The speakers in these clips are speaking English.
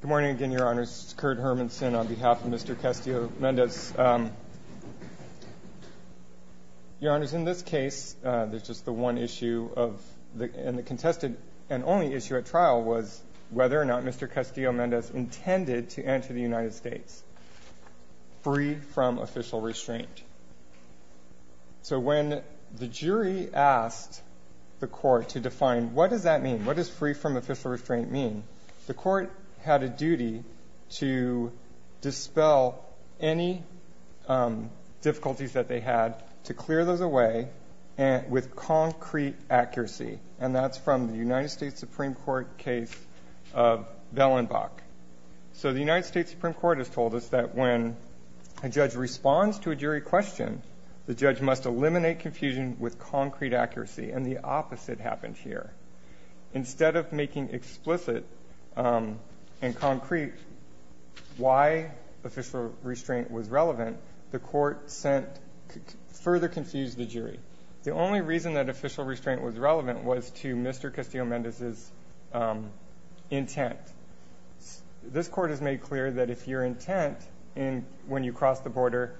The only issue at trial was whether or not Mr. Castillo-Mendez intended to enter the United States, freed from official restraint. So when the jury asked the court to define what does that mean, what does free from official restraint mean, the court had a duty to dispel any difficulties that they had to clear those away and with concrete accuracy. And that's from the United States Supreme Court case of Bellenbach. So the United States Supreme Court has told us that when a judge responds to a jury question, the judge must eliminate confusion with concrete accuracy. And the opposite happened here. Instead of making explicit and concrete why official restraint was relevant, the court further confused the jury. The only reason that official restraint was relevant was to Mr. Castillo-Mendez's intent. This court has made clear that if your intent when you cross the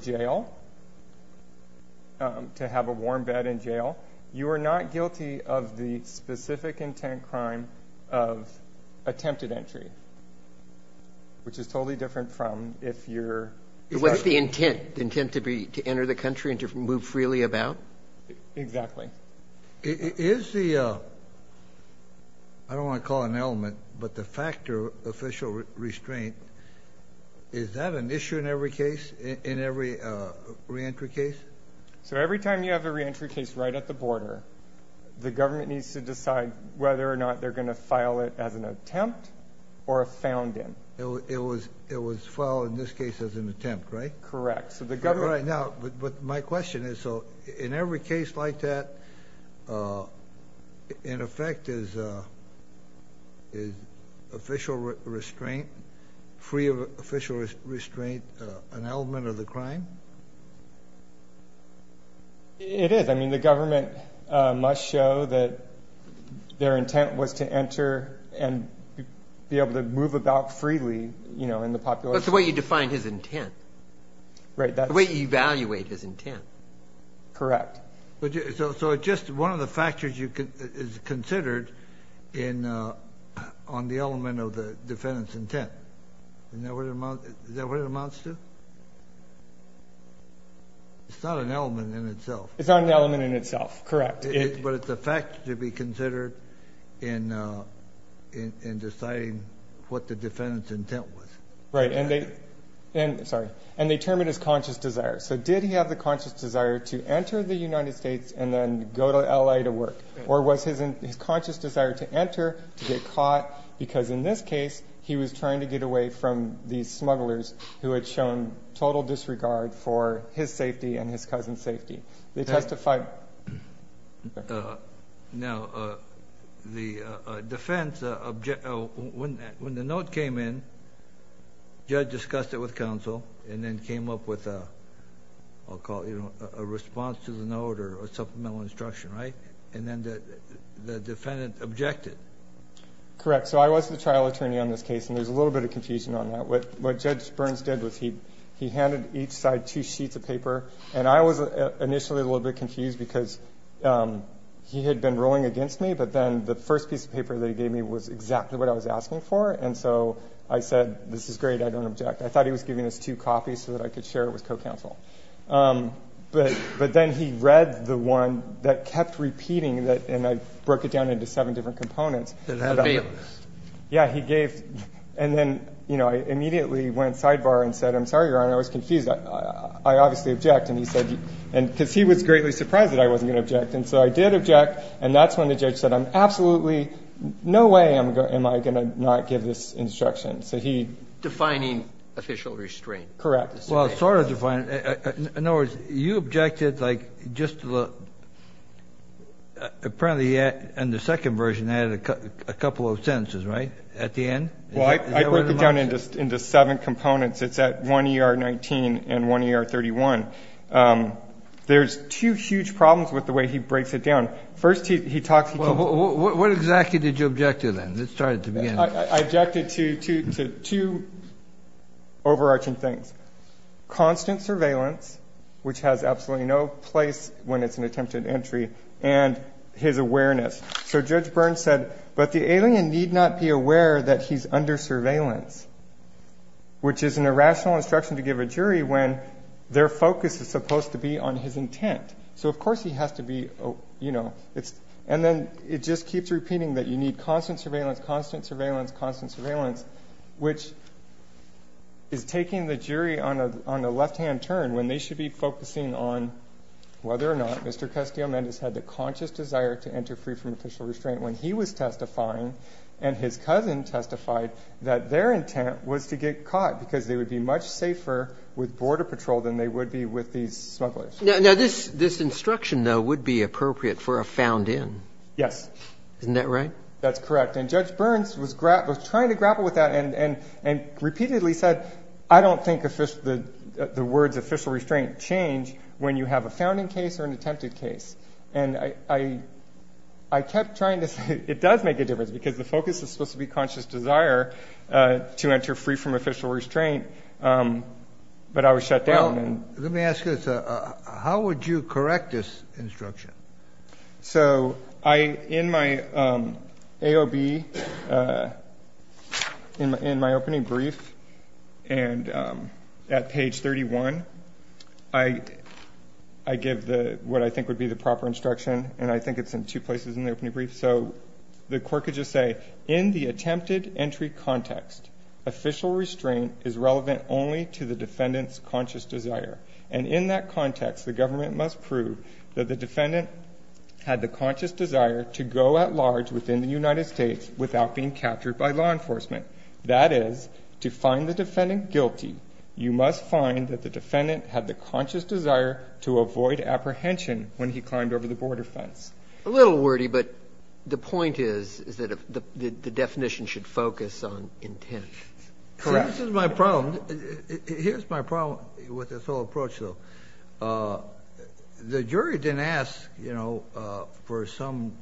jail, to have a warm bed in jail, you are not guilty of the specific intent crime of attempted entry, which is totally different from if you're... What's the intent? The intent to be to enter the country and to move freely about? Exactly. Is the, I don't want to call it an element, but the factor official restraint, is that an re-entry case? So every time you have a re-entry case right at the border, the government needs to decide whether or not they're going to file it as an attempt or a found in. It was filed in this case as an attempt, right? Correct. So the government... But my question is, so in every case like that, in effect is official restraint, free of official restraint, an element of the crime? It is. I mean, the government must show that their intent was to enter and be able to move about freely, you know, in the population. That's the way you define his intent. Right, that's... The way you evaluate his intent. Correct. So just one of the factors is considered on the element of the defendant's intent. Is that what it amounts to? It's not an element in itself. It's not an element in itself, correct. But it's a factor to be considered in deciding what the defendant's intent was. Right, and they, sorry, and they term it as conscious desire. So did he have the conscious desire to enter the United States and then go to L.A. to work? Or was his conscious desire to enter to get caught because in this case, he was trying to get away from these smugglers who had shown total disregard for his safety and his cousin's safety? They testified... Now, the defense, when the note came in, judge discussed it with counsel and then came up with a, I'll call it, you know, a response to the note or a supplemental instruction, right? And then the defendant objected. Correct. So I was the trial attorney on this case, and there's a little bit of confusion on that. What Judge Burns did was he handed each side two sheets of paper. And I was initially a little bit confused because he had been rolling against me, but then the first piece of paper that he gave me was exactly what I was asking for. And so I said, this is great. I don't object. I thought he was giving us two copies so that I could share it with co-counsel. But then he read the one that kept repeating that, and I broke it down into seven different components. Yeah, he gave, and then, you know, I immediately went sidebar and said, I'm sorry, Your Honor, I was confused. I obviously object. And he said, and because he was greatly surprised that I wasn't going to object. And so I did object, and that's when the judge said, I'm absolutely, no way am I going to not give this instruction. So he. Defining official restraint. Correct. Well, sort of defined. In other words, you objected, like, just to the, apparently, and the second version added a couple of sentences, right? At the end? Well, I broke it down into seven components. It's at 1 ER 19 and 1 ER 31. There's two huge problems with the way he breaks it down. First, he talks. Well, what exactly did you object to then? Let's start at the beginning. I objected to two overarching things. Constant surveillance, which has absolutely no place when it's an attempted entry, and his awareness. So Judge Burns said, but the alien need not be aware that he's under surveillance. Which is an irrational instruction to give a jury when their focus is supposed to be on his intent. So, of course, he has to be, you know, it's. And then it just keeps repeating that you need constant surveillance, constant surveillance, constant surveillance, which is taking the jury on a left-hand turn when they should be focusing on whether or not Mr. Castillo-Mendez had the conscious desire to enter free from official restraint when he was testifying and his cousin testified that their intent was to get caught because they would be much safer with border patrol than they would be with these smugglers. Now, this instruction, though, would be appropriate for a found in. Yes. Isn't that right? That's correct. And Judge Burns was trying to grapple with that and repeatedly said, I don't think the words official restraint change when you have a found in case or an attempted case. And I kept trying to say, it does make a difference because the focus is supposed to be conscious desire to enter free from official restraint. But I was shut down. Let me ask you, how would you correct this instruction? So in my AOB, in my opening brief, and at page 31, I give what I think would be the proper instruction. And I think it's in two places in the opening brief. So the court could just say, in the attempted entry context, official restraint is relevant only to the defendant's conscious desire. And in that context, the government must prove that the defendant had the conscious desire to go at large within the United States without being captured by law enforcement. That is, to find the defendant guilty, you must find that the defendant had the conscious desire to avoid apprehension when he climbed over the border fence. A little wordy, but the point is, is that the definition should focus on intent. Correct. This is my problem. Here's my problem with this whole approach, though. The jury didn't ask, you know, for some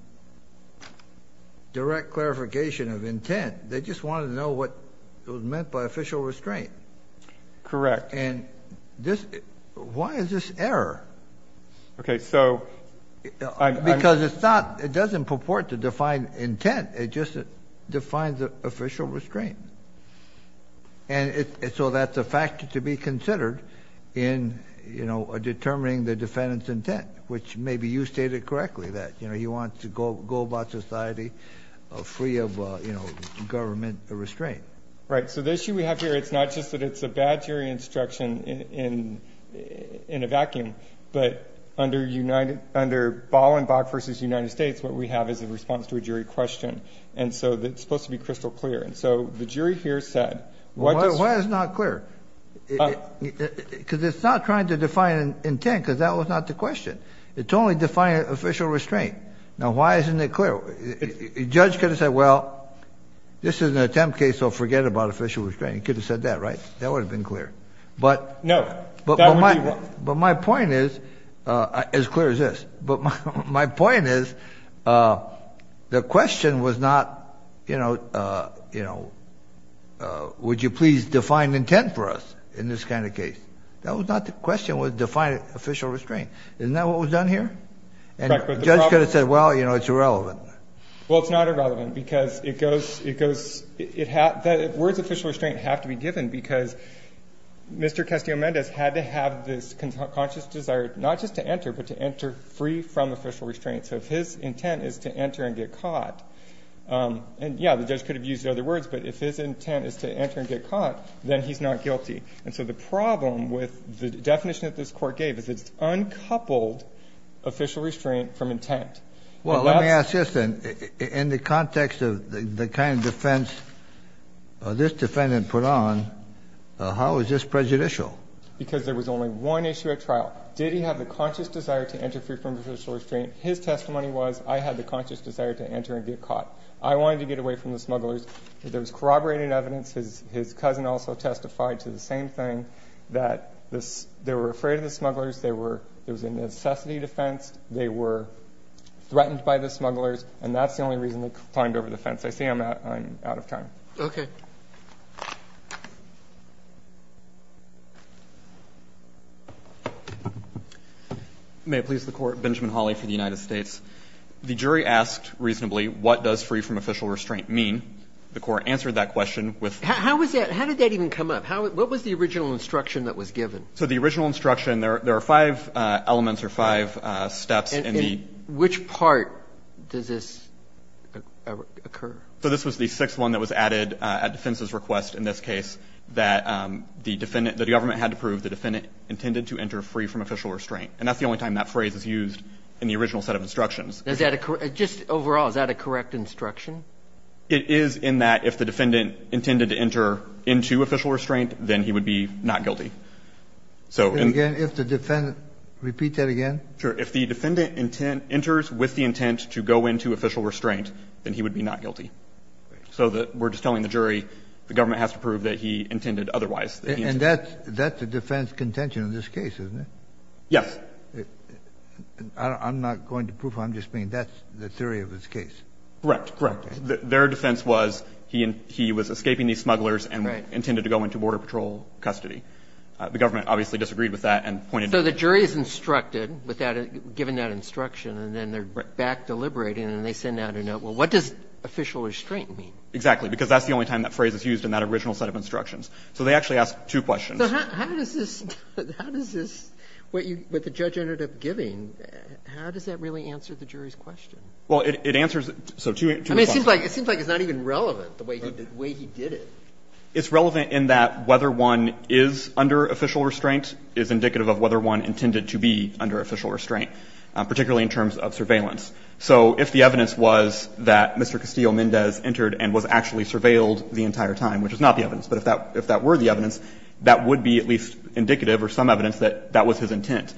direct clarification of intent. They just wanted to know what it was meant by official restraint. Correct. And this, why is this error? Okay. So because it's not, it doesn't purport to define intent. It just defines the official restraint. And so that's a factor to be considered in, you know, determining the defendant's intent, which maybe you stated correctly that, you know, you want to go about society free of, you know, government restraint. Right. So the issue we have here, it's not just that it's a bad jury instruction in a vacuum, but under Ballenbach v. United States, what we have is a response to a jury question. And so it's supposed to be crystal clear. And so the jury here said, why is it not clear? Because it's not trying to define intent, because that was not the question. It's only defining official restraint. Now, why isn't it clear? Judge could have said, well, this is an attempt case, so forget about official restraint. You could have said that, right? That would have been clear. But no, but my point is as clear as this, but my point is the question was not, you know, you know, would you please define intent for us in this kind of case? That was not the question was defining official restraint. Isn't that what was done here? And judge could have said, well, you know, it's irrelevant. Well, it's not irrelevant because it goes, it goes, it had the words official restraint have to be given because Mr. Castillo-Mendez had to have this conscious desire, not just to enter, but to enter free from official restraint. So if his intent is to enter and get caught and yeah, the judge could have used other words, but if his intent is to enter and get caught, then he's not guilty. And so the problem with the definition that this court gave is it's uncoupled official restraint from intent. Well, let me ask you this then, in the context of the kind of defense this defendant put on, how is this prejudicial? Because there was only one issue at trial. Did he have the conscious desire to enter free from official restraint? His testimony was, I had the conscious desire to enter and get caught. I wanted to get away from the smugglers. There was corroborated evidence. His cousin also testified to the same thing that this, they were afraid of the smugglers. They were, it was a necessity defense. They were threatened by the smugglers. And that's the only reason they climbed over the fence. I say I'm out of time. Okay. May it please the court, Benjamin Hawley for the United States. The jury asked reasonably, what does free from official restraint mean? The court answered that question with. How was that? How did that even come up? How, what was the original instruction that was given? So the original instruction there, there are five elements or five steps in the. Which part does this occur? So this was the sixth one that was added at defense's request. In this case that the defendant, that the government had to prove the defendant intended to enter free from official restraint. And that's the only time that phrase is used in the original set of instructions. Does that occur just overall? Is that a correct instruction? It is in that if the defendant intended to enter into official restraint, then he would be not guilty. So again, if the defendant repeat that again, sure. If the defendant intent enters with the intent to go into official restraint, then he would be not guilty. So that we're just telling the jury, the government has to prove that he intended otherwise. And that's, that's the defense contention in this case, isn't it? Yes. I'm not going to prove I'm just being, that's the theory of this case. Correct. Correct. Their defense was he and he was escaping these smugglers and intended to go into border patrol custody. The government obviously disagreed with that and pointed to it. So the jury is instructed without giving that instruction, and then they're back deliberating and they send out a note. Well, what does official restraint mean? Exactly. Because that's the only time that phrase is used in that original set of instructions. So they actually ask two questions. So how does this, how does this, what you, what the judge ended up giving, how does that really answer the jury's question? Well, it answers, so two, two responses. I mean, it seems like, it seems like it's not even relevant, the way he did it. It's relevant in that whether one is under official restraint is indicative of whether one intended to be under official restraint, particularly in terms of surveillance. So if the evidence was that Mr. Castillo-Mendez entered and was actually surveilled the entire time, which is not the evidence, but if that, if that were the evidence, that would be at least indicative or some evidence that that was his intent.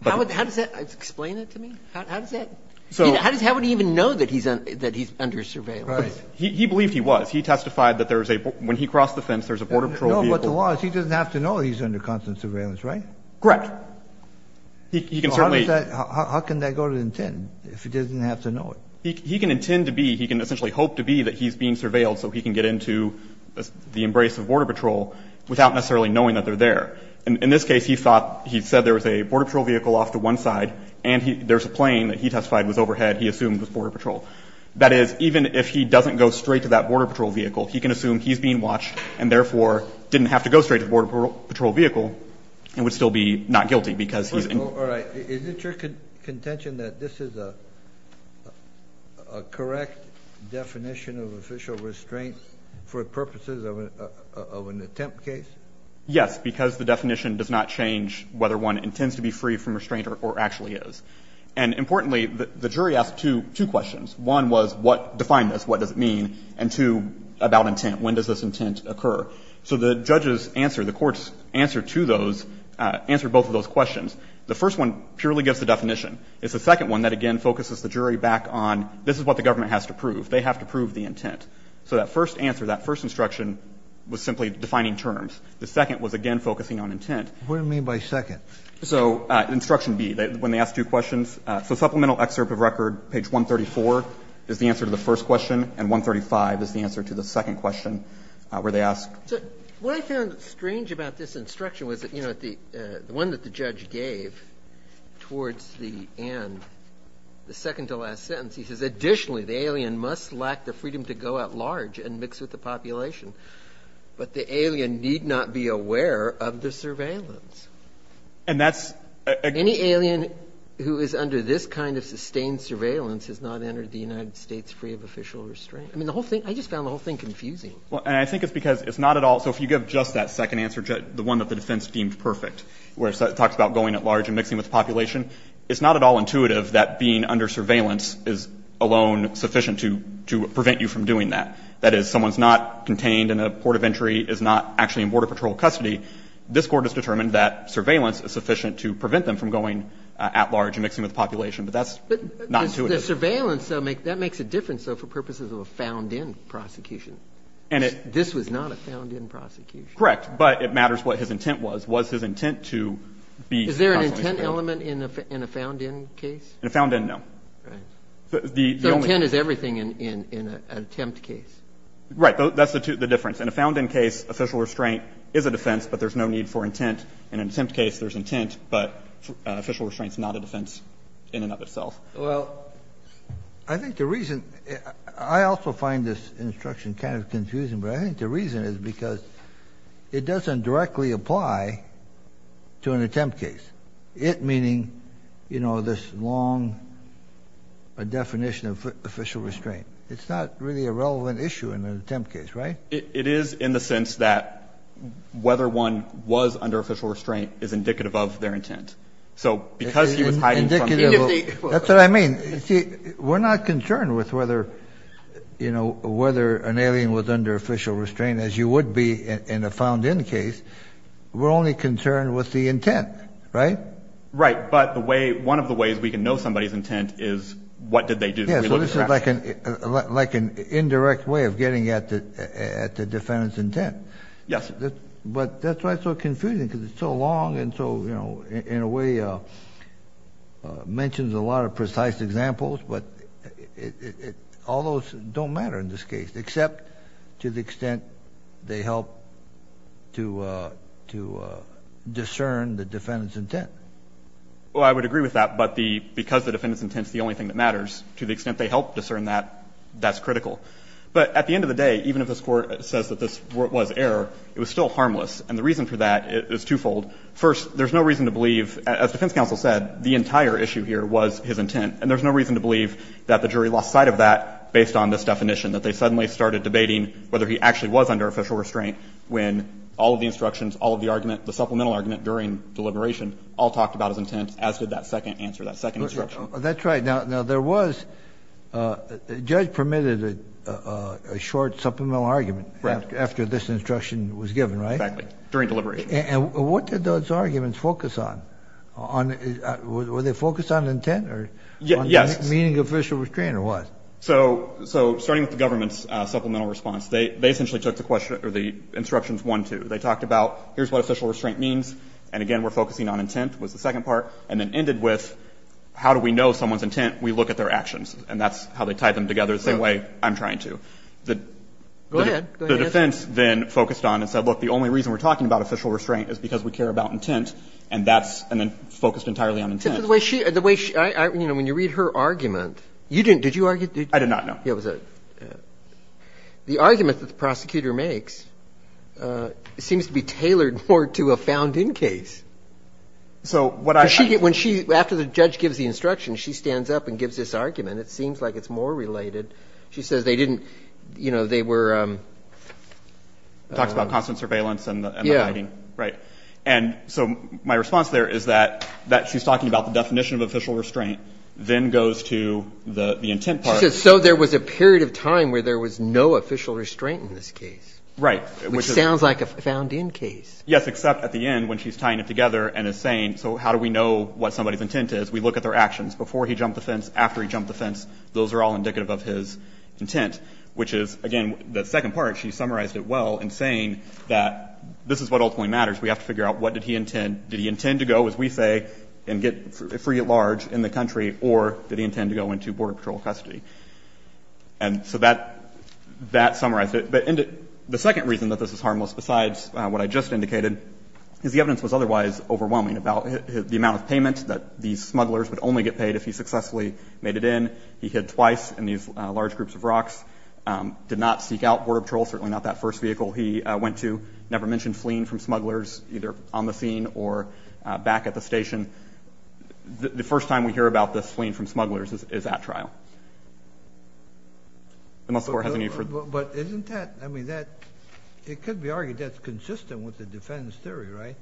How would, how does that explain it to me? How does that, how does, how would he even know that he's, that he's under surveillance? He believed he was. He testified that there is a, when he crossed the fence, there's a border patrol vehicle. No, but the law is he doesn't have to know he's under constant surveillance, right? Correct. He can certainly. How does that, how can that go to intent if he doesn't have to know it? He can intend to be, he can essentially hope to be that he's being surveilled so he can get into the embrace of border patrol without necessarily knowing that they're there. And in this case, he thought, he said there was a border patrol vehicle off to one side and there's a plane that he testified was overhead. He assumed it was border patrol. That is, even if he doesn't go straight to that border patrol vehicle, he can assume he's being watched and therefore didn't have to go straight to the border patrol vehicle and would still be not guilty because he's in. All right. Is it your contention that this is a correct definition of official restraint for purposes of an attempt case? Yes, because the definition does not change whether one intends to be free from restraint or actually is. And importantly, the jury asked two questions. One was what defined this? What does it mean? And two, about intent. When does this intent occur? So the judges answer, the courts answer to those, answer both of those questions. The first one purely gives the definition. It's the second one that, again, focuses the jury back on this is what the government has to prove. They have to prove the intent. So that first answer, that first instruction was simply defining terms. The second was, again, focusing on intent. What do you mean by second? So instruction B, when they ask two questions, so supplemental excerpt of record, page 134 is the answer to the first question, and 135 is the answer to the second question where they ask. So what I found strange about this instruction was that, you know, the one that the judge gave towards the end, the second to last sentence, he says, additionally, the alien must lack the freedom to go at large and mix with the population. But the alien need not be aware of the surveillance. And that's a. Any alien who is under this kind of sustained surveillance has not entered the United States free of official restraint. I mean, the whole thing, I just found the whole thing confusing. Well, and I think it's because it's not at all. So if you give just that second answer, the one that the defense deemed perfect, where it talks about going at large and mixing with the population, it's not at all intuitive that being under surveillance is alone sufficient to prevent you from doing that. That is, someone's not contained in a port of entry, is not actually in Border Patrol custody. This Court has determined that surveillance is sufficient to prevent them from going at large and mixing with the population. But that's not intuitive. The surveillance, though, that makes a difference, though, for purposes of a found-in prosecution. And it. This was not a found-in prosecution. Correct. But it matters what his intent was. Was his intent to be. Is there an intent element in a found-in case? In a found-in, no. The intent is everything in an attempt case. Right. That's the difference. In a found-in case, official restraint is a defense, but there's no need for intent. In an attempt case, there's intent, but official restraint is not a defense in and of itself. Well, I think the reason I also find this instruction kind of confusing, but I think the reason is because it doesn't directly apply to an attempt case. It meaning, you know, this long definition of official restraint. It's not really a relevant issue in an attempt case, right? It is in the sense that whether one was under official restraint is indicative of their intent. So because he was hiding. That's what I mean. We're not concerned with whether, you know, whether an alien was under official restraint, as you would be in a found-in case. We're only concerned with the intent. Right. Right. But the way one of the ways we can know somebody's intent is what did they do? This is like an indirect way of getting at the defendant's intent. Yes. But that's why it's so confusing because it's so long and so, you know, in a way mentions a lot of precise examples. But all those don't matter in this case, except to the extent they help to discern the defendant's intent. Well, I would agree with that. But the because the defendant's intent is the only thing that matters, to the extent they help discern that, that's critical. But at the end of the day, even if this Court says that this was error, it was still harmless. And the reason for that is twofold. First, there's no reason to believe, as defense counsel said, the entire issue here was his intent. And there's no reason to believe that the jury lost sight of that based on this definition, that they suddenly started debating whether he actually was under official restraint when all of the instructions, all of the argument, the supplemental argument during deliberation, all talked about his intent, as did that second answer, that second instruction. That's right. Now, there was a judge permitted a short supplemental argument after this instruction was given, right? Exactly. During deliberation. And what did those arguments focus on? Were they focused on intent or on meaning official restraint or what? So starting with the government's supplemental response, they essentially took the question or the instructions one, two. They talked about, here's what official restraint means. And again, we're focusing on intent was the second part. And then ended with, how do we know someone's intent? We look at their actions. And that's how they tied them together the same way I'm trying to. The defense then focused on and said, look, the only reason we're talking about official restraint is because we care about intent. And that's, and then focused entirely on intent. Except for the way she, the way she, you know, when you read her argument, you didn't, did you argue? I did not, no. Yeah, it was a, the argument that the prosecutor makes seems to be tailored more to a found in case. So what I, when she, after the judge gives the instruction, she stands up and gives this argument. It seems like it's more related. She says they didn't, you know, they were. Talks about constant surveillance and the writing. Right. And so my response there is that, that she's talking about the definition of official restraint then goes to the intent part. So there was a period of time where there was no official restraint in this case. Right. Which sounds like a found in case. Yes, except at the end when she's tying it together and is saying, so how do we know what somebody's intent is? We look at their actions before he jumped the fence, after he jumped the fence. Those are all indicative of his intent, which is again, the second part, she summarized it well in saying that this is what ultimately matters. We have to figure out what did he intend? Did he intend to go, as we say, and get free at large in the country or did he intend to go into border patrol custody? And so that, that summarized it. But the second reason that this is harmless besides what I just indicated is the evidence was otherwise overwhelming about the amount of payment that these smugglers would only get paid if he successfully made it in. He hid twice in these large groups of rocks, did not seek out border patrol. Certainly not that first vehicle he went to. Never mentioned fleeing from smugglers either on the scene or back at the station. The first time we hear about this fleeing from smugglers is at trial. Unless the court has a need for... But isn't that, I mean, that, it could be argued that's consistent with the defense theory, right?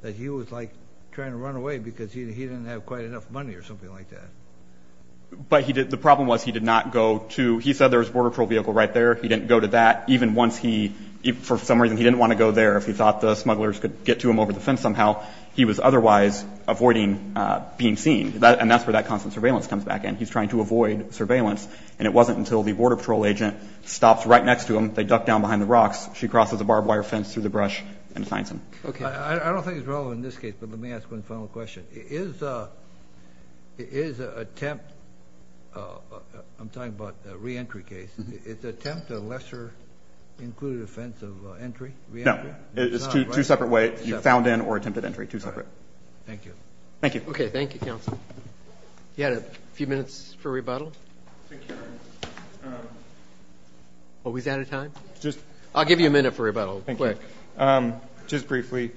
That he was like trying to run away because he didn't have quite enough money or something like that. But he did. The problem was he did not go to, he said there was border patrol vehicle right there. He didn't go to that. Even once he, for some reason, he didn't want to go there if he thought the smugglers could get to him over the fence somehow. He was otherwise avoiding being seen. And that's where that constant surveillance comes back in. He's trying to avoid surveillance. And it wasn't until the border patrol agent stops right next to him. They duck down behind the rocks. She crosses a barbed wire fence through the brush and finds him. Okay. I don't think it's relevant in this case, but let me ask one final question. Is attempt, I'm talking about a re-entry case, is attempt a lesser included offense of entry? No, it's two separate ways. He found in or attempted entry, two separate. Thank you. Thank you. Okay. Thank you, counsel. You had a few minutes for rebuttal. Oh, he's out of time. Just, I'll give you a minute for rebuttal. Thank you. Um, just briefly.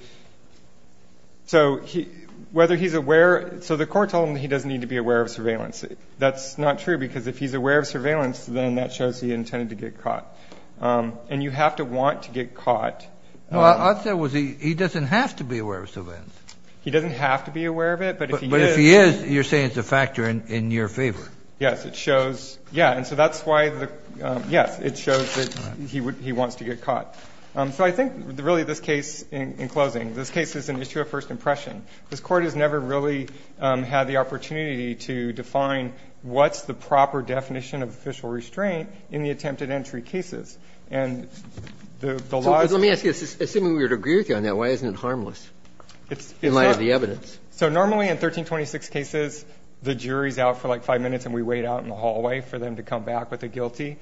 So he, whether he's aware, so the court told him that he doesn't need to be aware of surveillance. That's not true because if he's aware of surveillance, then that shows he intended to get caught. Um, and you have to want to get caught. Well, I'd say it was, he, he doesn't have to be aware of surveillance. He doesn't have to be aware of it. But if he is, you're saying it's a factor in your favor. Yes. It shows. Yeah. And so that's why the, um, yes, it shows that he would, he wants to get caught. Um, so I think really this case in closing, this case is an issue of first impression. This court has never really, um, had the opportunity to define what's the proper definition of official restraint in the attempted entry cases. And the law, let me ask you, assuming we were to agree with you on that, why isn't it harmless in light of the evidence? So normally in 1326 cases, the jury's out for like five minutes and we wait out in the hallway for them to come back with a guilty,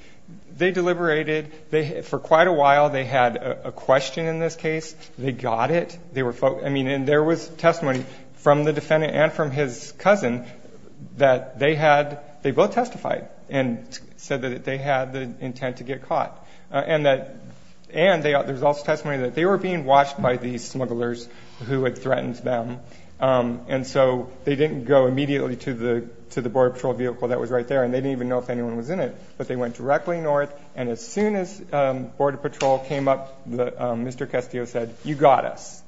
they deliberated, they, for quite a while, they had a question in this case. They got it. They were folk. I mean, there was testimony from the defendant and from his cousin that they had, they both testified and said that they had the intent to get caught and that, and they, there's also testimony that they were being watched by these smugglers who had threatened them. Um, and so they didn't go immediately to the, to the border patrol vehicle that was right there. And they didn't even know if anyone was in it, but they went directly north. And as soon as, um, border patrol came up, the, um, Mr. Castillo said, you got us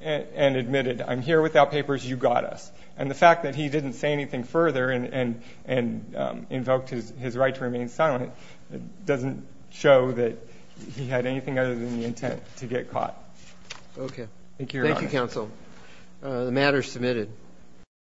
and admitted, I'm here without papers. You got us. And the fact that he didn't say anything further and, and, and, um, invoked his, his right to remain silent. It doesn't show that he had anything other than the intent to get caught. Okay. Thank you. Thank you counsel. Uh, the matter is submitted.